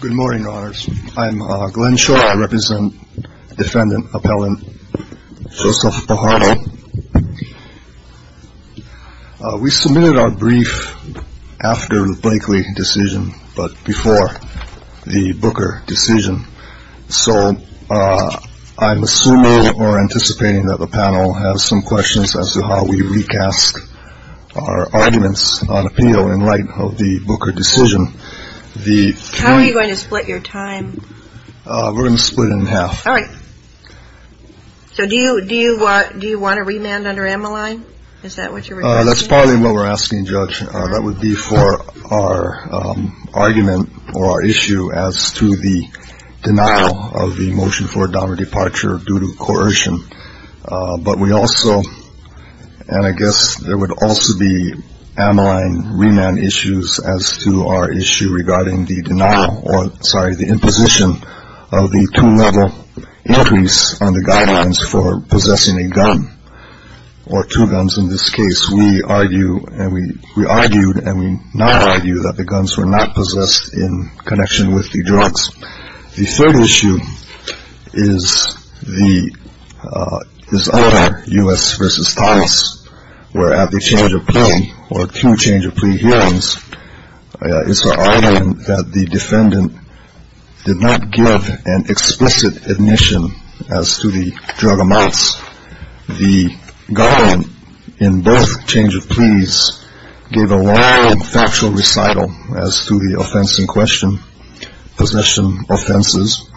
Good morning, Your Honors. I'm Glenn Short. I represent Defendant Appellant Joseph Pajardo. We submitted our brief after the Blakely decision, but before the Booker decision, so I'm assuming or anticipating that the panel has some questions as to how we recast our arguments on appeal in light of the Booker decision. How are you going to split your time? We're going to split it in half. Alright. So do you want a remand under Ammaline? Is that what you're requesting? That's partly what we're asking, Judge. That would be for our argument or our issue as to the denial of the motion for a downward departure due to coercion. But we also, and I guess there would also be Ammaline remand issues as to our issue regarding the denial or, sorry, the imposition of the two-level entries on the guidelines for possessing a gun or two guns. In this case, we argued and we now argue that the guns were not possessed in connection with the drugs. The third issue is other U.S. v. Thomas, where at the change of plea or two change of plea hearings, it's our argument that the defendant did not give an explicit admission as to the drug amounts. The government in both change of pleas gave a long and factual recital as to the offense in question, possession offenses.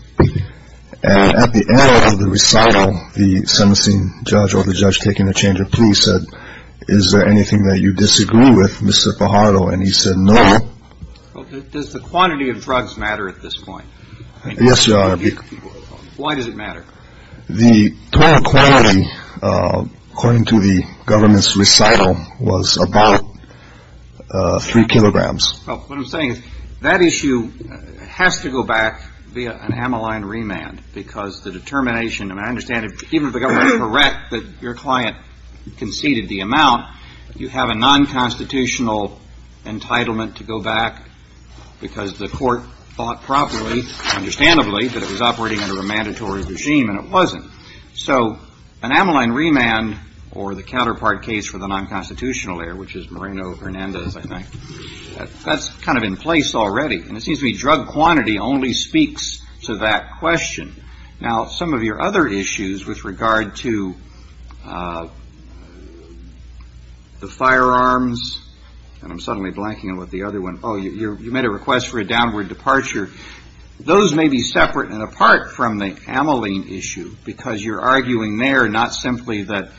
And at the end of the recital, the sentencing judge or the judge taking the change of plea said, is there anything that you disagree with, Mr. Fajardo? And he said no. Does the quantity of drugs matter at this point? Yes, Your Honor. Why does it matter? The total quantity, according to the government's recital, was about three kilograms. Well, what I'm saying is that issue has to go back via an Ammaline remand because the determination, and I understand, even if the government is correct that your client conceded the amount, you have a nonconstitutional entitlement to go back because the court thought properly, understandably, that it was operating under a mandatory regime and it wasn't. So an Ammaline remand or the counterpart case for the nonconstitutional error, which is Moreno-Hernandez, I think, that's kind of in place already. And it seems to me drug quantity only speaks to that question. Now, some of your other issues with regard to the firearms, and I'm suddenly blanking on what the other one, oh, you made a request for you're arguing there not simply that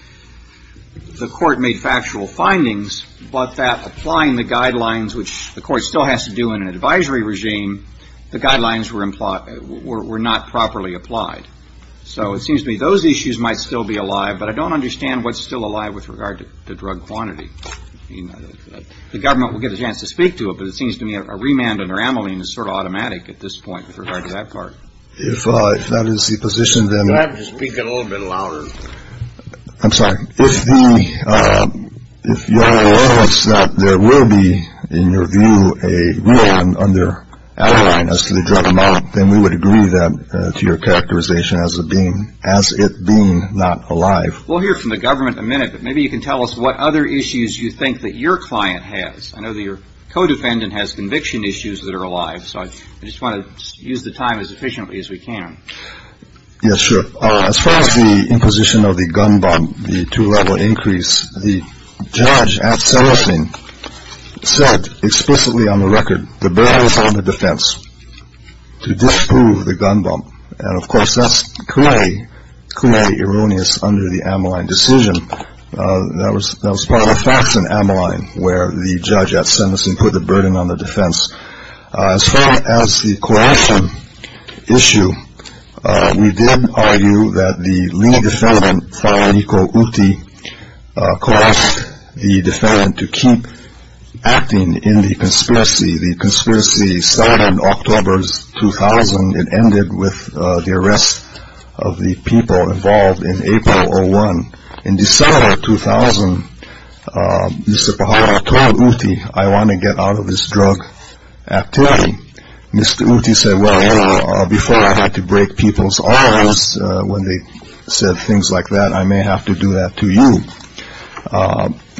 the court made factual findings, but that applying the guidelines, which the court still has to do in an advisory regime, the guidelines were not properly applied. So it seems to me those issues might still be alive, but I don't understand what's still alive with regard to drug quantity. I mean, the government will get a chance to speak to it, but it seems to me a remand under Ammaline is sort of automatic at this point with regard to that part. If that is the position, then I have to speak a little bit louder. I'm sorry. If the if you're aware that there will be in your view a remand under Ammaline as to the drug amount, then we would agree that to your characterization as a being as it being not alive. We'll hear from the government a minute, but maybe you can tell us what other issues you think that your client has. I know that your co-defendant has conviction issues that are alive, so I just want to use the time as efficiently as we can. Yes, sure. As far as the imposition of the gun bump, the two-level increase, the judge at Senecin said explicitly on the record, the burden is on the defense to disprove the gun bump. And of course, that's clearly, clearly erroneous under the Ammaline decision. That was part of the facts in Ammaline where the judge at Senecin put the burden on the defendant. As far as the coercion issue, we did argue that the lead defendant, Tharaniko Ooty, coerced the defendant to keep acting in the conspiracy. The conspiracy started in October 2000 and ended with the arrest of the people involved in April 2001. In December 2000, Mr. Pahala told Ooty, I want to get out of this drug activity. Mr. Ooty said, well, before I had to break people's arms when they said things like that, I may have to do that to you.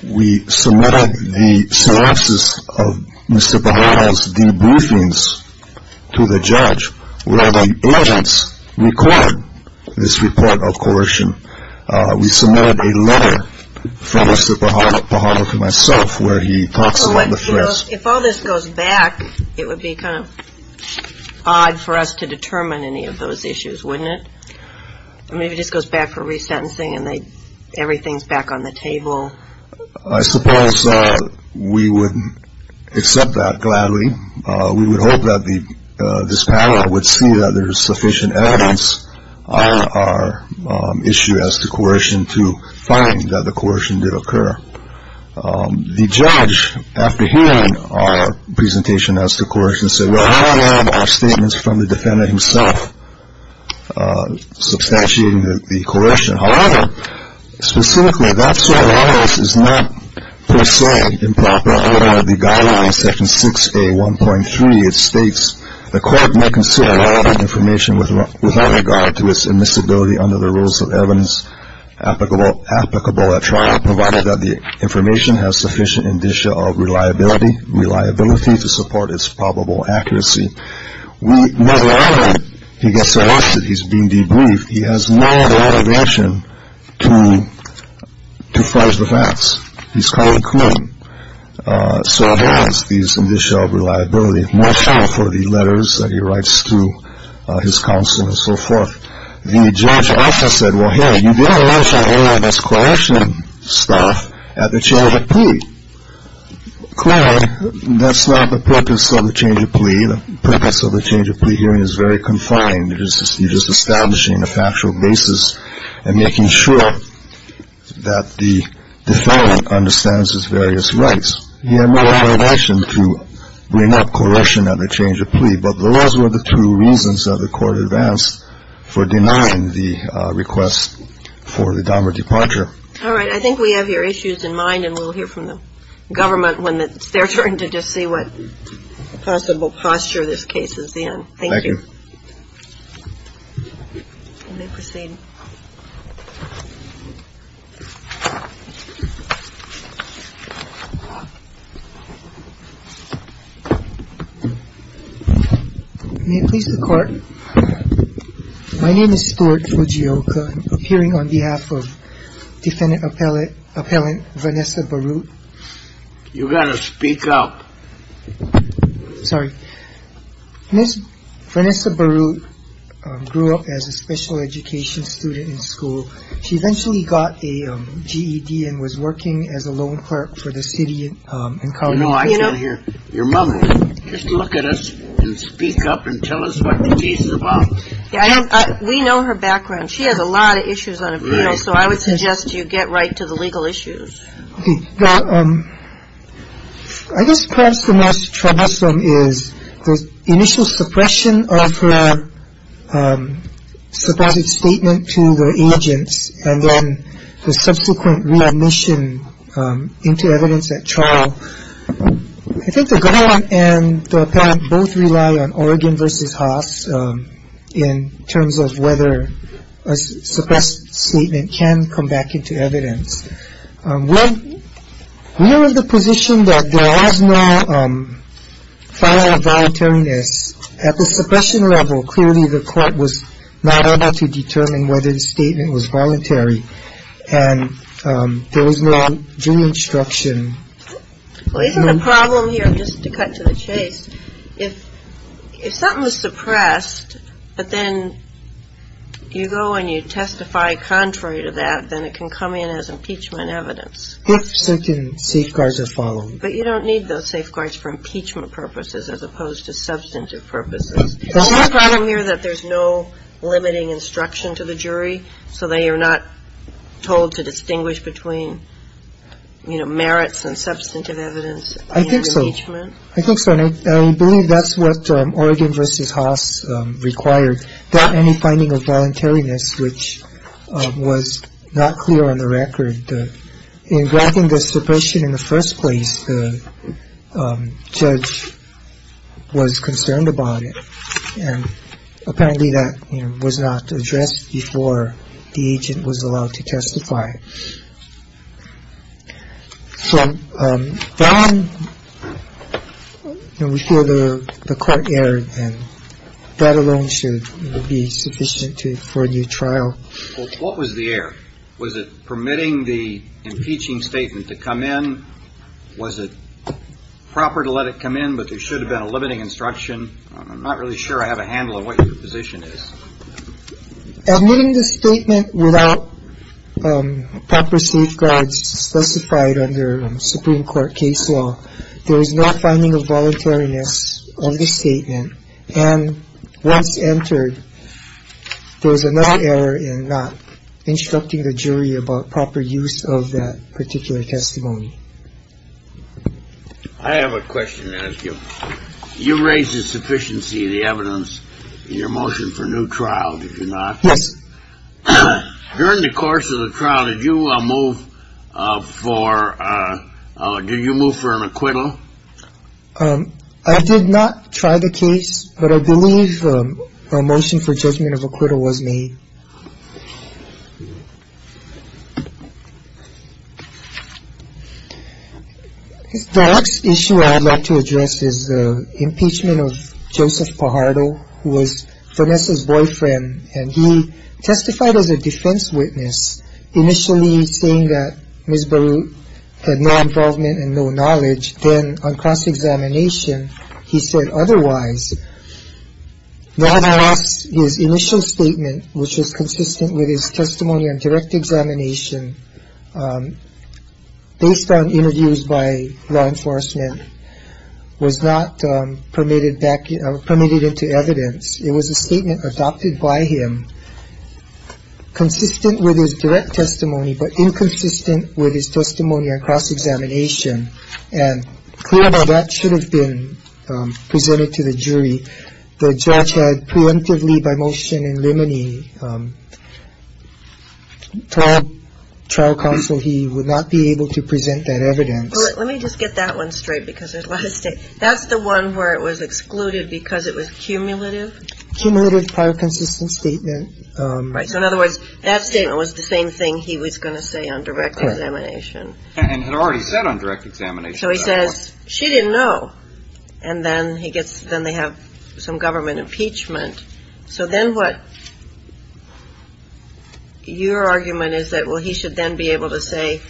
We submitted the synopsis of Mr. Pahala's debriefings to the judge where the evidence required this report of coercion. We submitted a letter from Mr. Pahala to myself where he talks about the threats. If all this goes back, it would be kind of odd for us to determine any of those issues, wouldn't it? I mean, if it just goes back for resentencing and everything's back on the table. I suppose we would accept that gladly. We would hope that this panel would see that there is sufficient evidence on our issue as to coercion to find that the coercion did occur. The judge, after hearing our presentation as to coercion, said, well, how can our statements from the defendant himself substantiate the coercion? However, specifically, that sort of evidence is not, per se, improper according to the guidelines of Section 6A1.3. It states, the court may consider relevant information without regard to its admissibility under the rules of evidence applicable at trial provided that the information has sufficient indicia of reliability. Reliability to support its probable accuracy. We, nevertheless, he gets arrested. He's being debriefed. He has no other option to, to fudge the facts. He's called in court. So he has these indicia of reliability, more so for the letters that he writes to his counsel and so forth. The judge also said, well, hey, you didn't mention any of this coercion stuff at the change of plea. Clearly, that's not the purpose of the change of plea. The purpose of the change of plea hearing is very confined. It is, it is establishing a factual basis and making sure that the defendant understands his various rights. He had no other option to bring up coercion at the change of plea, but those were the two reasons that the court advanced for denying the request for the Denver departure. All right. I think we have your issues in mind, and we'll hear from the government when it's their turn to just see what possible posture this case is in. Thank you. Thank you. May it please the court. My name is Stuart Fujioka. I'm appearing on behalf of defendant as a special education student in school. She eventually got a GED and was working as a loan clerk for the city. No, I hear your mother. Just look at us and speak up and tell us what the case is about. We know her background. She has a lot of issues. So I would suggest you get right to the legal issues. I guess perhaps the most troublesome is the initial suppression of her supposed statement to the agents and then the subsequent readmission into evidence at trial. I think the government and the appellant both rely on Oregon versus Haas in terms of whether a suppressed statement can come back into evidence. We're in the position that there is no file of voluntariness. At the suppression level, clearly the court was not able to determine whether the statement was voluntary and there was no instruction. Well, isn't the problem here, just to cut to the chase, if something was suppressed, but then you go and you testify contrary to that, then it can come in as impeachment evidence? If certain safeguards are followed. But you don't need those safeguards for impeachment purposes as opposed to substantive purposes. Isn't the problem here that there's no limiting instruction to the jury so they are not told I think so. And I believe that's what Oregon versus Haas required. Not any finding of voluntariness, which was not clear on the record. In graphing the suppression in the first place, the judge was concerned about it. And apparently that was not addressed before the agent was allowed to testify. So, Don, we feel the court erred and that alone should be sufficient for a new trial. What was the error? Was it permitting the impeaching statement to come in? Was it proper to let it come in? But there should have been a limiting instruction. I'm not really sure I have a handle on what your position is. Admitting the statement without proper safeguards specified under Supreme Court case law, there is no finding of voluntariness of the statement. And once entered, there was another error in not instructing the jury about proper use of that particular testimony. I have a question to ask you. You raised the sufficiency of the evidence in your motion for a new trial, did you not? Yes. During the course of the trial, did you move for an acquittal? I did not try the case, but I believe a motion for judgment of acquittal was made. The next issue I would like to address is the impeachment of Joseph Pajardo, who was Vanessa's boyfriend. And he testified as a defense witness, initially saying that Ms. Barute had no involvement and no knowledge. Then on cross-examination, he said otherwise. Nonetheless, his initial statement, which was consistent with his testimony on direct examination, based on interviews by law enforcement, was not permitted into evidence. It was a statement adopted by him, consistent with his direct testimony, but inconsistent with his testimony on cross-examination. And clearly, that should have been presented to the jury. The judge had preemptively by motion in limine trial counsel, he would not be able to present that evidence. Let me just get that one straight because there's a lot of statements. That's the one where it was excluded because it was cumulative? Cumulative prior consistent statement. Right. So in other words, that statement was the same thing he was going to say on direct examination. And had already said on direct examination. So he says she didn't know. And then he gets then they have some government impeachment. So then what your argument is that, well, he should then be able to say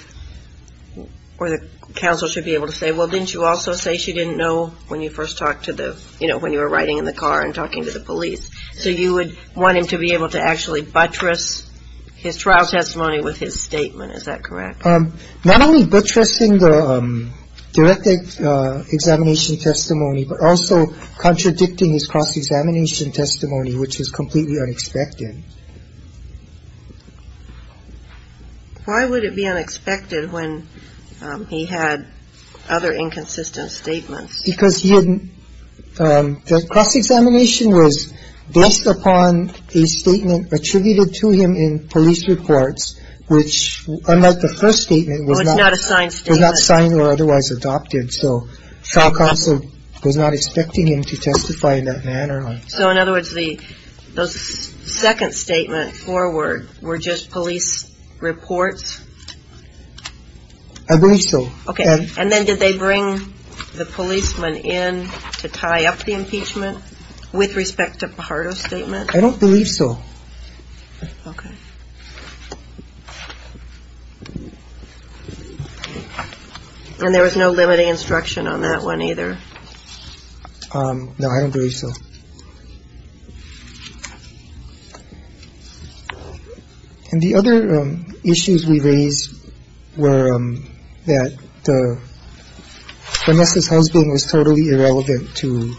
or the counsel should be able to say, well, didn't you also say she didn't know when you first talked to the you know, when you were riding in the car and talking to the police. So you would want him to be able to actually buttress his trial testimony with his statement. Is that correct? Not only buttressing the direct examination testimony, but also contradicting his cross-examination testimony, which is completely unexpected. Why would it be unexpected when he had other inconsistent statements? Because he had the cross-examination was based upon a statement attributed to him in police reports, which, unlike the first statement, was not assigned, was not signed or otherwise adopted. So shock also was not expecting him to testify in that manner. So in other words, the second statement forward were just police reports. I believe so. OK. And then did they bring the policeman in to tie up the impeachment with respect to Pajaro's statement? I don't believe so. OK. And there was no limiting instruction on that one either. No, I don't believe so. And the other issues we raised were that Vanessa's husband was totally irrelevant to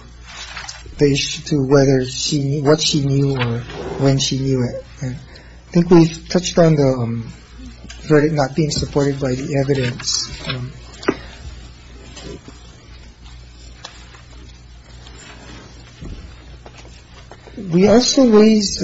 the issue, to whether she knew what she knew or when she knew it. I think we've touched on the threat of not being supported by the evidence. We also raised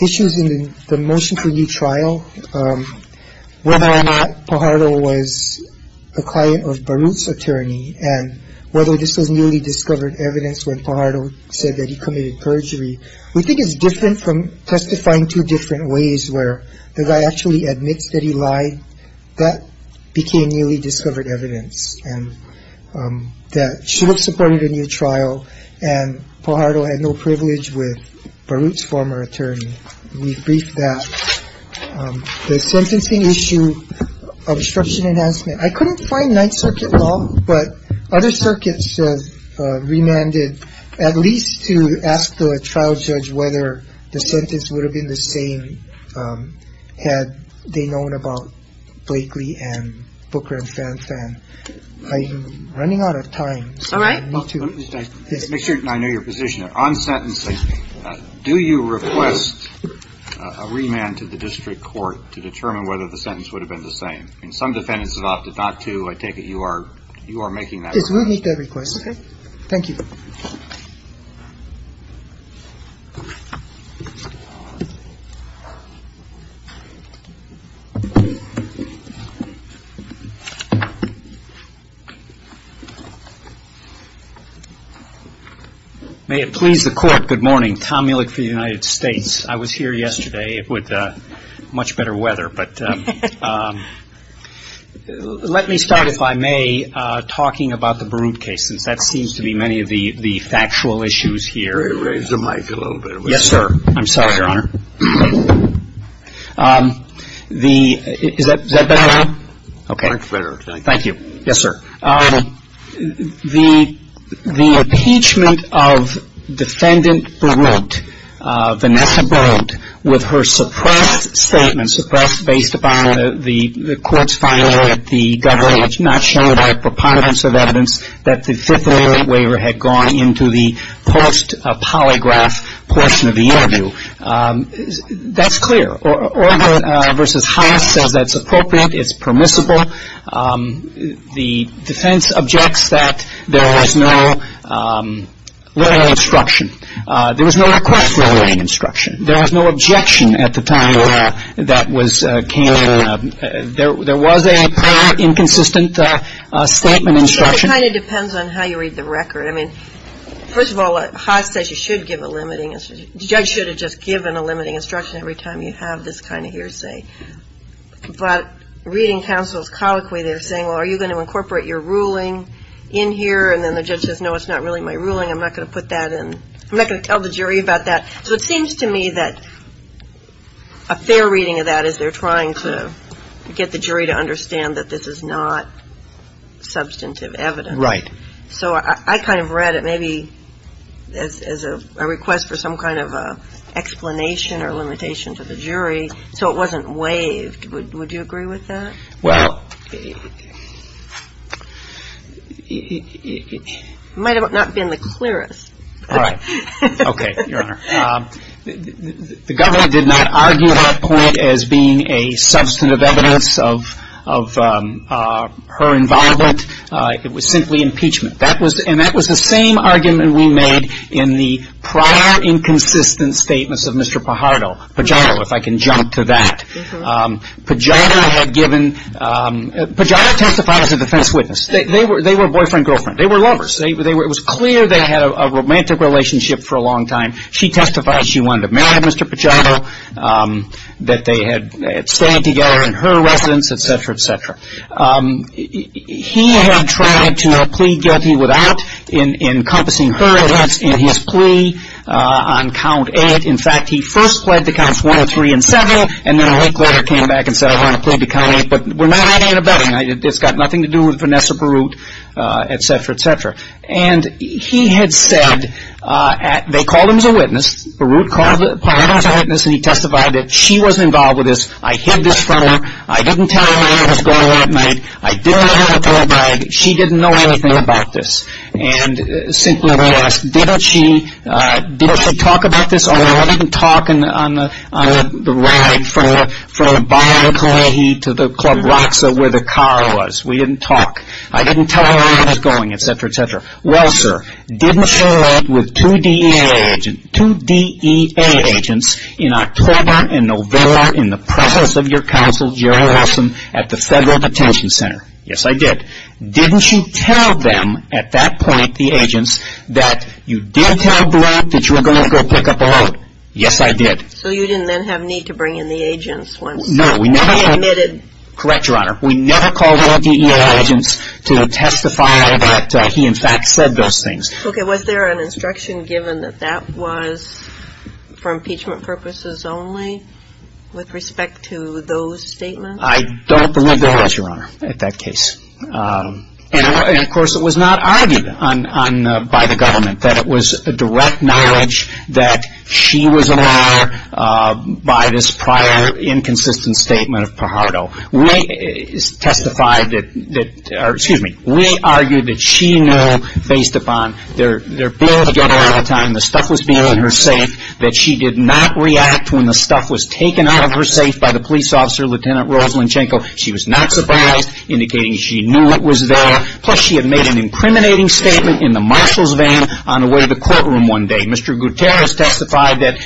issues in the motion for new trial, whether or not Pajaro was a client of Baruch's attorney, and whether this was newly discovered evidence when Pajaro said that he committed perjury. We think it's different from testifying two different ways where the guy actually admits that he lied. That became newly discovered evidence and that should have supported a new trial and Pajaro had no privilege with Baruch's former attorney. We've briefed that. The sentencing issue obstruction enhancement, I couldn't find Ninth Circuit law, but other circuits remanded at least to ask the trial judge whether the sentence would have been the same had they known about Blakely and Booker and Fan Fan. I'm running out of time. All right. Make sure I know your position on sentencing. Do you request a remand to the district court to determine whether the sentence would have been the same? Some defendants have opted not to. I take it you are making that request. Yes, we'll make that request. Okay. Thank you. May it please the Court. Good morning. Tom Mielek for the United States. I was here yesterday with much better weather. But let me start, if I may, talking about the Baruch case since that seems to be many of the factual issues here. Raise the mic a little bit. Yes, sir. I'm sorry, Your Honor. Is that better now? Much better. Thank you. Yes, sir. The impeachment of Defendant Baruch, Vanessa Baruch, with her suppressed statement, suppressed based upon the court's finding that the government had not shared our preponderance of evidence that the Fifth Amendment waiver had gone into the post-polygraph portion of the interview. That's clear. Orville v. Haas says that's appropriate, it's permissible. The defense objects that there was no letter of instruction. There was no request for a letter of instruction. There was no objection at the time that was came in. There was a apparent inconsistent statement of instruction. It kind of depends on how you read the record. I mean, first of all, Haas says you should give a limiting instruction. The judge should have just given a limiting instruction every time you have this kind of hearsay. But reading counsel's colloquy, they're saying, well, are you going to incorporate your ruling in here? And then the judge says, no, it's not really my ruling. I'm not going to put that in. I'm not going to tell the jury about that. So it seems to me that a fair reading of that is they're trying to get the jury to understand that this is not substantive evidence. Right. So I kind of read it maybe as a request for some kind of explanation or limitation to the jury, so it wasn't waived. Would you agree with that? Well. It might not have been the clearest. All right. Okay, Your Honor. The governor did not argue her point as being a substantive evidence of her involvement. It was simply impeachment. And that was the same argument we made in the prior inconsistent statements of Mr. Pajano. Pajano, if I can jump to that. Pajano testified as a defense witness. They were boyfriend-girlfriend. They were lovers. It was clear they had a romantic relationship for a long time. She testified she wanted to marry Mr. Pajano, that they had stayed together in her residence, et cetera, et cetera. He had tried to plead guilty without encompassing her evidence in his plea on count eight. In fact, he first pled to counts one, three, and seven, and then a week later came back and said, I want to plead the count eight, but we're not having a bedding night. It's got nothing to do with Vanessa Perut, et cetera, et cetera. And he had said, they called him as a witness. Perut called Pajano as a witness, and he testified that she wasn't involved with this. I hid this from her. I didn't tell her anything was going on at night. I didn't have her in a towel bag. She didn't know anything about this. And simply to ask, didn't she talk about this? I didn't talk on the ride from Bonner-McClohe to the Club Roxa where the car was. We didn't talk. I didn't tell her anything was going on, et cetera, et cetera. Well, sir, didn't she meet with two DEA agents in October and November in the presence of your counsel, Gerald Wilson, at the Federal Detention Center? Yes, I did. Didn't you tell them at that point, the agents, that you did tell Blatt that you were going to go pick up the load? Yes, I did. So you didn't then have need to bring in the agents once they admitted? Correct, Your Honor. We never called the DEA agents to testify that he, in fact, said those things. Okay. Was there an instruction given that that was for impeachment purposes only with respect to those statements? I don't believe there was, Your Honor, at that case. And, of course, it was not argued by the government that it was a direct knowledge that she was a liar by this prior inconsistent statement of Pajaro. We argued that she knew, based upon their being together all the time, the stuff was being in her safe, that she did not react when the stuff was taken out of her safe by the police officer, Lieutenant Rosalyn Chenko. She was not surprised, indicating she knew it was there. Plus, she had made an incriminating statement in the marshal's vein on the way to the courtroom one day. Mr. Gutierrez testified that,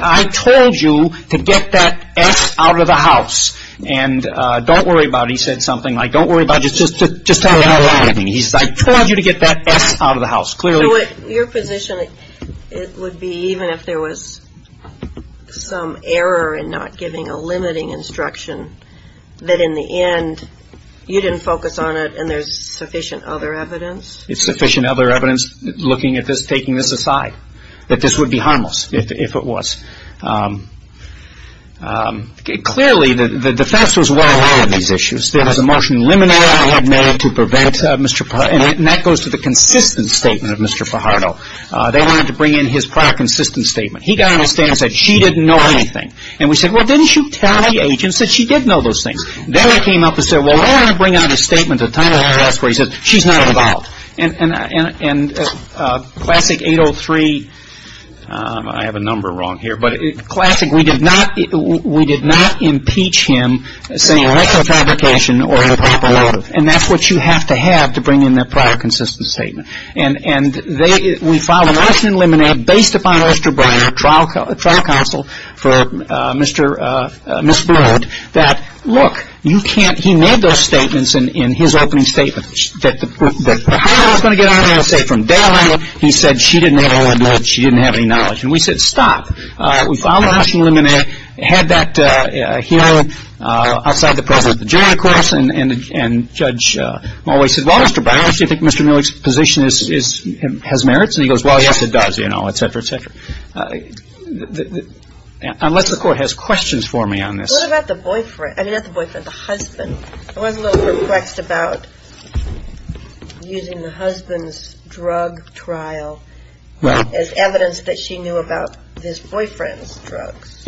I told you to get that S out of the house. And don't worry about it, he said something like, don't worry about it, just tell me what happened. He said, I told you to get that S out of the house. So your position would be, even if there was some error in not giving a limiting instruction, that in the end you didn't focus on it and there's sufficient other evidence? There's sufficient other evidence looking at this, taking this aside, that this would be harmless if it was. Clearly, the facts was well high on these issues. There was a motion in limine I had made to prevent Mr. Pajaro, and that goes to the consistent statement of Mr. Pajaro. They wanted to bring in his prior consistent statement. He got on the stand and said, she didn't know anything. And we said, well, didn't you tell the agents that she did know those things? Then he came up and said, well, why don't I bring out his statement at the time of the arrest where he said, she's not involved. And Classic 803, I have a number wrong here, but Classic, we did not impeach him, saying retro fabrication or improper motive. And that's what you have to have to bring in that prior consistent statement. And we filed a motion in limine based upon Osterbrenner, trial counsel for Ms. Broad, that, look, you can't, he made those statements in his opening statement, that the higher I was going to get on it, I'll say from Daryl Engel, he said, she didn't have any knowledge. And we said, stop. We filed a motion in limine, had that healed outside the presence of the jury, of course, and Judge Mulway said, well, Mr. Brown, do you think Mr. Millich's position has merits? And he goes, well, yes, it does, you know, et cetera, et cetera. Unless the court has questions for me on this. What about the boyfriend, I mean, not the boyfriend, the husband? I was a little perplexed about using the husband's drug trial as evidence that she knew about his boyfriend's drugs.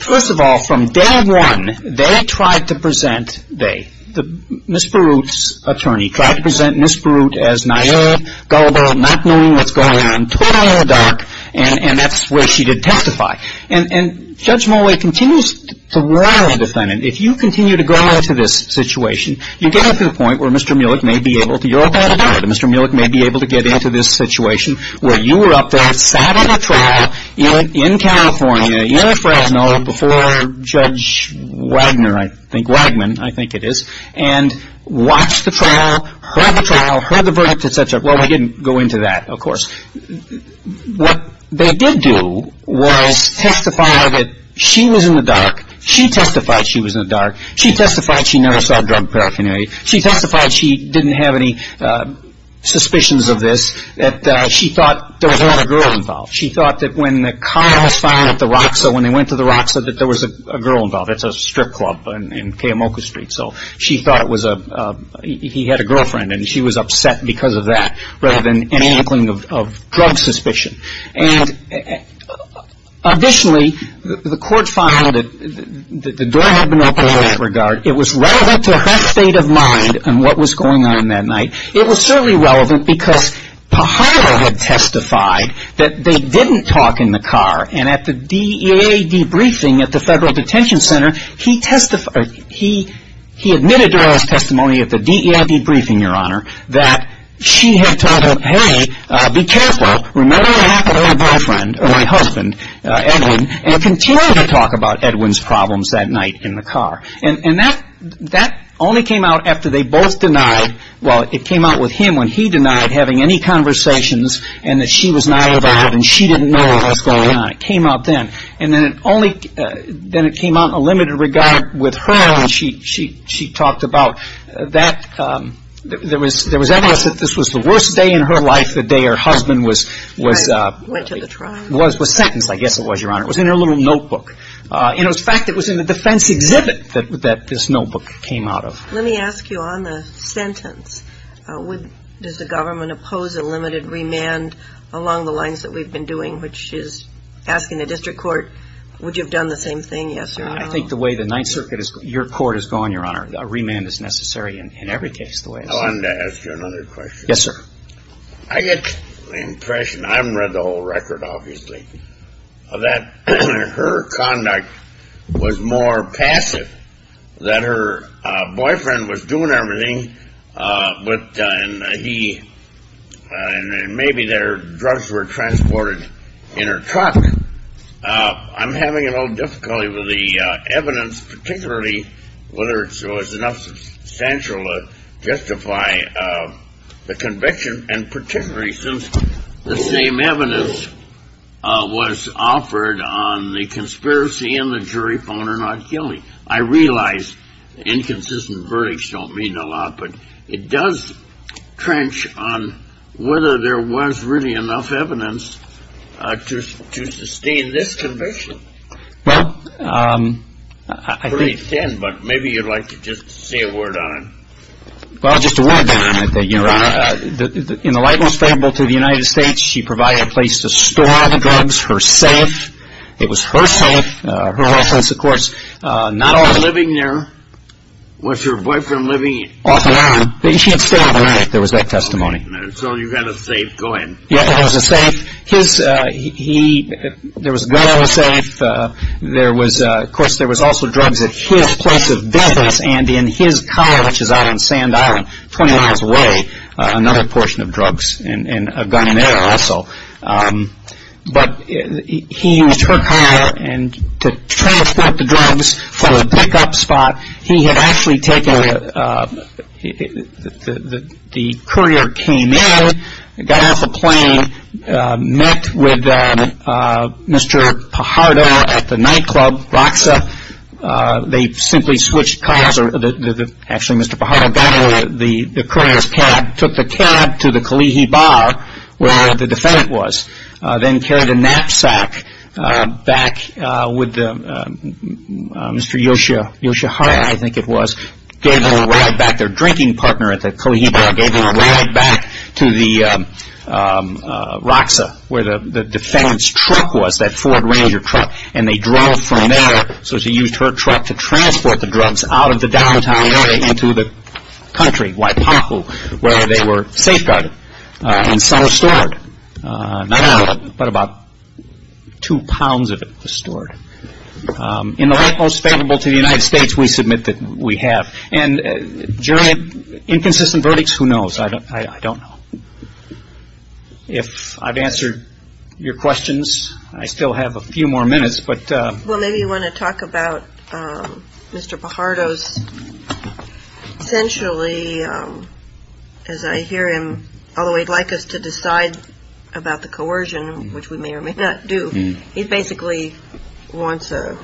First of all, from day one, they tried to present, they, Ms. Baruch's attorney, tried to present Ms. Baruch as naïve, gullible, not knowing what's going on, totally in the dark, and that's where she did testify. And Judge Mulway continues to warn the defendant, if you continue to go into this situation, you get up to the point where Mr. Millich may be able to get into this situation where you were up there, sat on a trial in California, in Fresno, before Judge Wagner, I think, Wagman, I think it is, and watched the trial, heard the trial, heard the verdict, et cetera. Well, we didn't go into that, of course. What they did do was testify that she was in the dark. She testified she was in the dark. She testified she never saw drug paraphernalia. She testified she didn't have any suspicions of this, that she thought there was a lot of girls involved. She thought that when the car was firing at the ROCSO, when they went to the ROCSO, that there was a girl involved. It's a strip club in Kayamoku Street, so she thought it was a, he had a girlfriend, and she was upset because of that rather than any inkling of drug suspicion. And additionally, the court found that the door had been opened in that regard. It was relevant to her state of mind and what was going on that night. It was certainly relevant because Pajaro had testified that they didn't talk in the car, and at the DEA debriefing at the Federal Detention Center, he admitted to her testimony at the DEA debriefing, Your Honor, that she had told him, hey, be careful, remember what happened to my boyfriend, or my husband, Edwin, and continued to talk about Edwin's problems that night in the car. And that only came out after they both denied, well, it came out with him when he denied having any conversations and that she was not involved and she didn't know what was going on. It came out then. And then it only, then it came out in a limited regard with her when she talked about that, there was evidence that this was the worst day in her life, the day her husband was... Went to the trial. Was sentenced, I guess it was, Your Honor. It was in her little notebook. In fact, it was in the defense exhibit that this notebook came out of. Let me ask you on the sentence, does the government oppose a limited remand along the lines that we've been doing, which is asking the district court, would you have done the same thing, yes or no? I think the way the Ninth Circuit is, your court is going, Your Honor, a remand is necessary in every case. I wanted to ask you another question. Yes, sir. I get the impression, I haven't read the whole record, obviously, that her conduct was more passive, that her boyfriend was doing everything, and maybe that her drugs were transported in her truck. I'm having a little difficulty with the evidence, particularly whether it was enough substantial to justify the conviction, and particularly since the same evidence was offered on the conspiracy and the jury found her not killing. I realize inconsistent verdicts don't mean a lot, but it does trench on whether there was really enough evidence to sustain this conviction. Well, I think… It's pretty thin, but maybe you'd like to just say a word on it. Well, just a word on it, Your Honor. In the light most favorable to the United States, she provided a place to store the drugs, her safe. It was her safe. Her offense, of course, not only… Was she living there? Was her boyfriend living off the island? She had stayed on the island, if there was that testimony. So you had a safe, go ahead. Yes, it was a safe. There was a gun on the safe. Of course, there was also drugs at his place of business and in his car, which is out on Sand Island, 20 miles away, another portion of drugs and a gun there also. But he used her car to transport the drugs for a pickup spot. He had actually taken… The courier came in, got off the plane, met with Mr. Pajaro at the nightclub, Roxa. They simply switched cars. Actually, Mr. Pajaro got in the courier's cab, took the cab to the Kalihi Bar, where the defendant was, then carried a knapsack back with Mr. Yoshihara, I think it was, gave him a ride back. Their drinking partner at the Kalihi Bar gave him a ride back to Roxa, where the defendant's truck was, that Ford Ranger truck, and they drove from there. So she used her truck to transport the drugs out of the downtown area into the country, Waipahu, where they were safeguarded. And some were stored. Not all of it, but about two pounds of it was stored. In the light most favorable to the United States, we submit that we have. And, in general, inconsistent verdicts? Who knows? I don't know. If I've answered your questions, I still have a few more minutes, but… Well, maybe you want to talk about Mr. Pajaro's… Essentially, as I hear him, although he'd like us to decide about the coercion, which we may or may not do, he basically wants a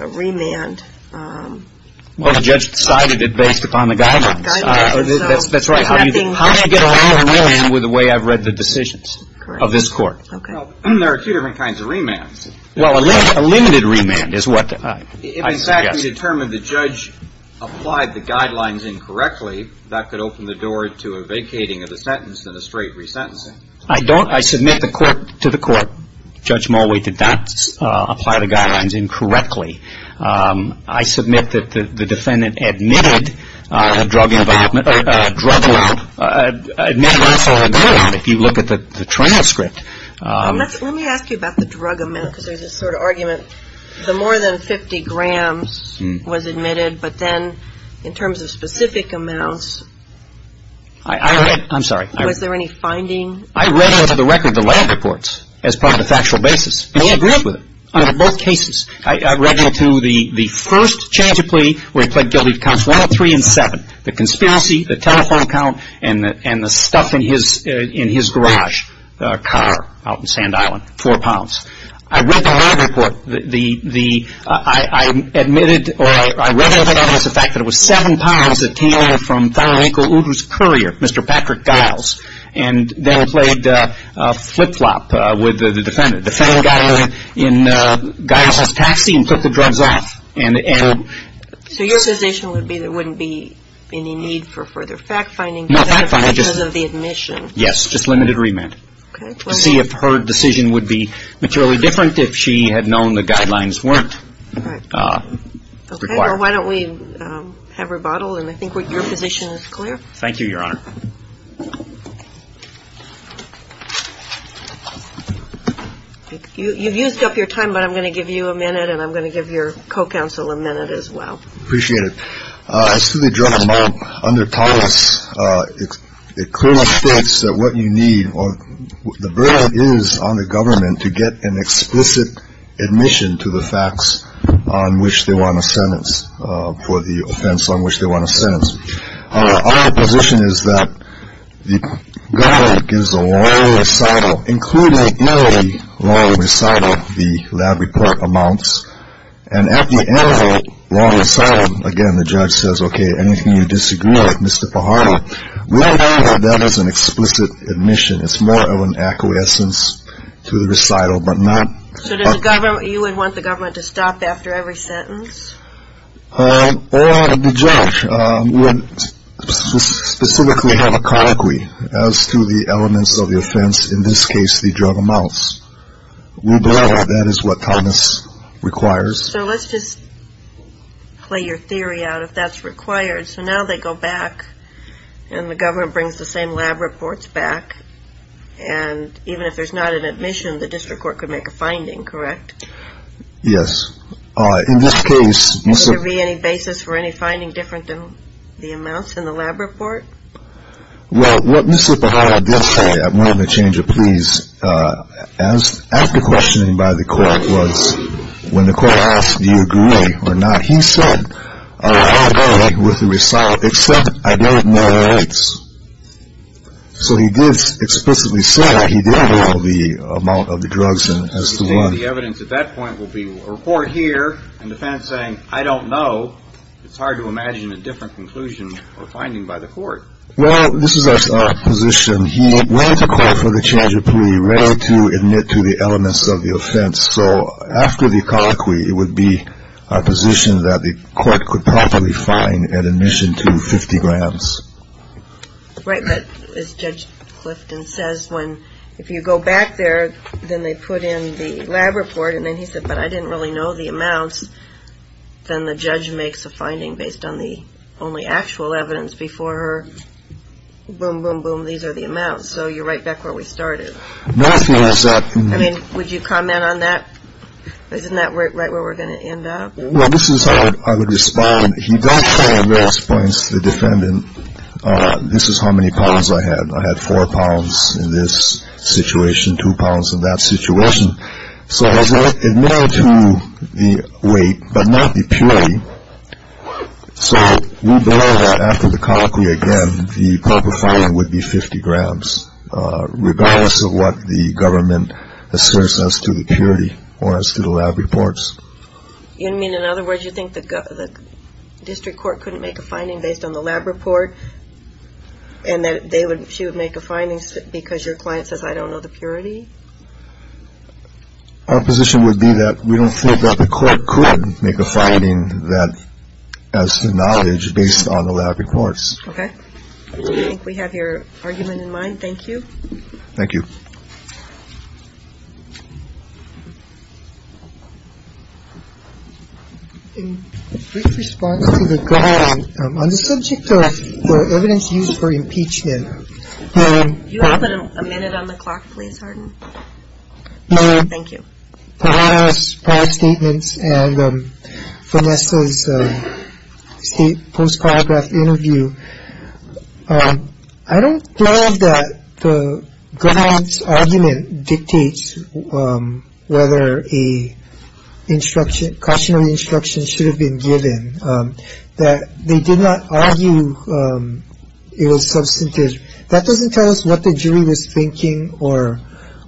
remand. Well, the judge decided it based upon the guidance. That's right. How do you get around a remand with the way I've read the decisions of this court? There are two different kinds of remands. Well, a limited remand is what I suggest. If, in fact, we determine the judge applied the guidelines incorrectly, that could open the door to a vacating of the sentence and a straight resentencing. I don't. I submit to the court Judge Mulway did not apply the guidelines incorrectly. I submit that the defendant admitted a drug amount. Admitted also a drug amount, if you look at the transcript. Let me ask you about the drug amount, because there's this sort of argument. The more than 50 grams was admitted, but then in terms of specific amounts… I read… I'm sorry. Was there any finding? I read into the record the lab reports as part of the factual basis, and he agreed with it on both cases. I read into the first change of plea where he pled guilty to counts one, three, and seven, the conspiracy, the telephone count, and the stuff in his garage car out in Sand Island, four pounds. I read the lab report. I admitted, or I read a little bit of it as a fact, that it was seven pounds that came in from Thorough Enclosed Courier, Mr. Patrick Giles, and then it played flip-flop with the defendant. The defendant got in Giles' taxi and took the drugs off. So your position would be there wouldn't be any need for further fact-finding because of the admission? Not fact-finding. Yes, just limited remand. Okay. To see if her decision would be materially different if she had known the guidelines weren't required. Okay. Well, why don't we have rebuttal, and I think your position is clear. Thank you, Your Honor. You've used up your time, but I'm going to give you a minute, and I'm going to give your co-counsel a minute as well. Appreciate it. As to the drug amount, under Thomas, it clearly states that what you need, or the burden is on the government to get an explicit admission to the facts on which they want a sentence, our position is that the government gives a long recital, including in the long recital, the lab report amounts, and at the end of the long recital, again, the judge says, okay, anything you disagree with, Mr. Fajardo, we'll know that that is an explicit admission. It's more of an acquiescence to the recital, but not. So you would want the government to stop after every sentence? Well, the judge would specifically have a colloquy as to the elements of the offense, in this case, the drug amounts. That is what Thomas requires. So let's just play your theory out if that's required. So now they go back and the government brings the same lab reports back, and even if there's not an admission, the district court could make a finding, correct? Yes. In this case. Could there be any basis for any finding different than the amounts in the lab report? Well, what Mr. Fajardo did say, I'm going to change it, please, after questioning by the court was when the court asked, do you agree or not, he said, I agree with the recital, except I don't know the rates. So he did explicitly say that he didn't know the amount of the drugs. So you think the evidence at that point will be a report here in defense saying, I don't know. It's hard to imagine a different conclusion or finding by the court. Well, this is our position. He went to court for the change of plea, ready to admit to the elements of the offense. So after the colloquy, it would be our position that the court could properly find an admission to 50 grams. Right. But as Judge Clifton says, when if you go back there, then they put in the lab report. And then he said, but I didn't really know the amounts. Then the judge makes a finding based on the only actual evidence before her. Boom, boom, boom. These are the amounts. So you're right back where we started. I mean, would you comment on that? Isn't that right where we're going to end up? Well, this is how I would respond. He does try and raise points to the defendant. This is how many pounds I had. I had four pounds in this situation, two pounds in that situation. So I was admitted to the weight, but not the purity. So we believe that after the colloquy again, the proper finding would be 50 grams, regardless of what the government asserts as to the purity or as to the lab reports. You mean, in other words, you think the district court couldn't make a finding based on the lab report and that she would make a finding because your client says, I don't know the purity? Our position would be that we don't think that the court could make a finding that has knowledge based on the lab reports. Okay. I think we have your argument in mind. Thank you. Thank you. In response to the ground on the subject of the evidence used for impeachment. You have a minute on the clock, please. Thank you. Statements and Vanessa's state post-paragraph interview. I don't think that the government's argument dictates whether a instruction, cautionary instruction should have been given that they did not argue it was substantive. That doesn't tell us what the jury was thinking or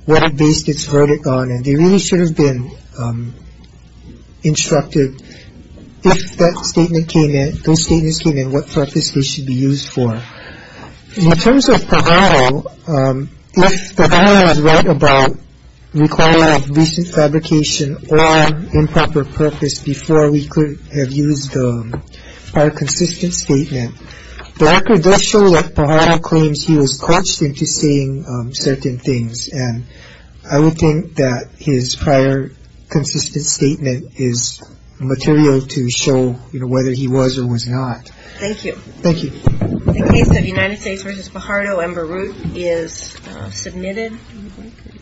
what it based its verdict on. They really should have been instructed if that statement came in, if those statements came in, what purpose they should be used for. In terms of Pajaro, if Pajaro had read about requirement of recent fabrication or improper purpose before we could have used our consistent statement, the record does show that Pajaro claims he was coached into saying certain things. And I would think that his prior consistent statement is material to show whether he was or was not. Thank you. Thank you. The case of United States v. Pajaro and Baruch is submitted.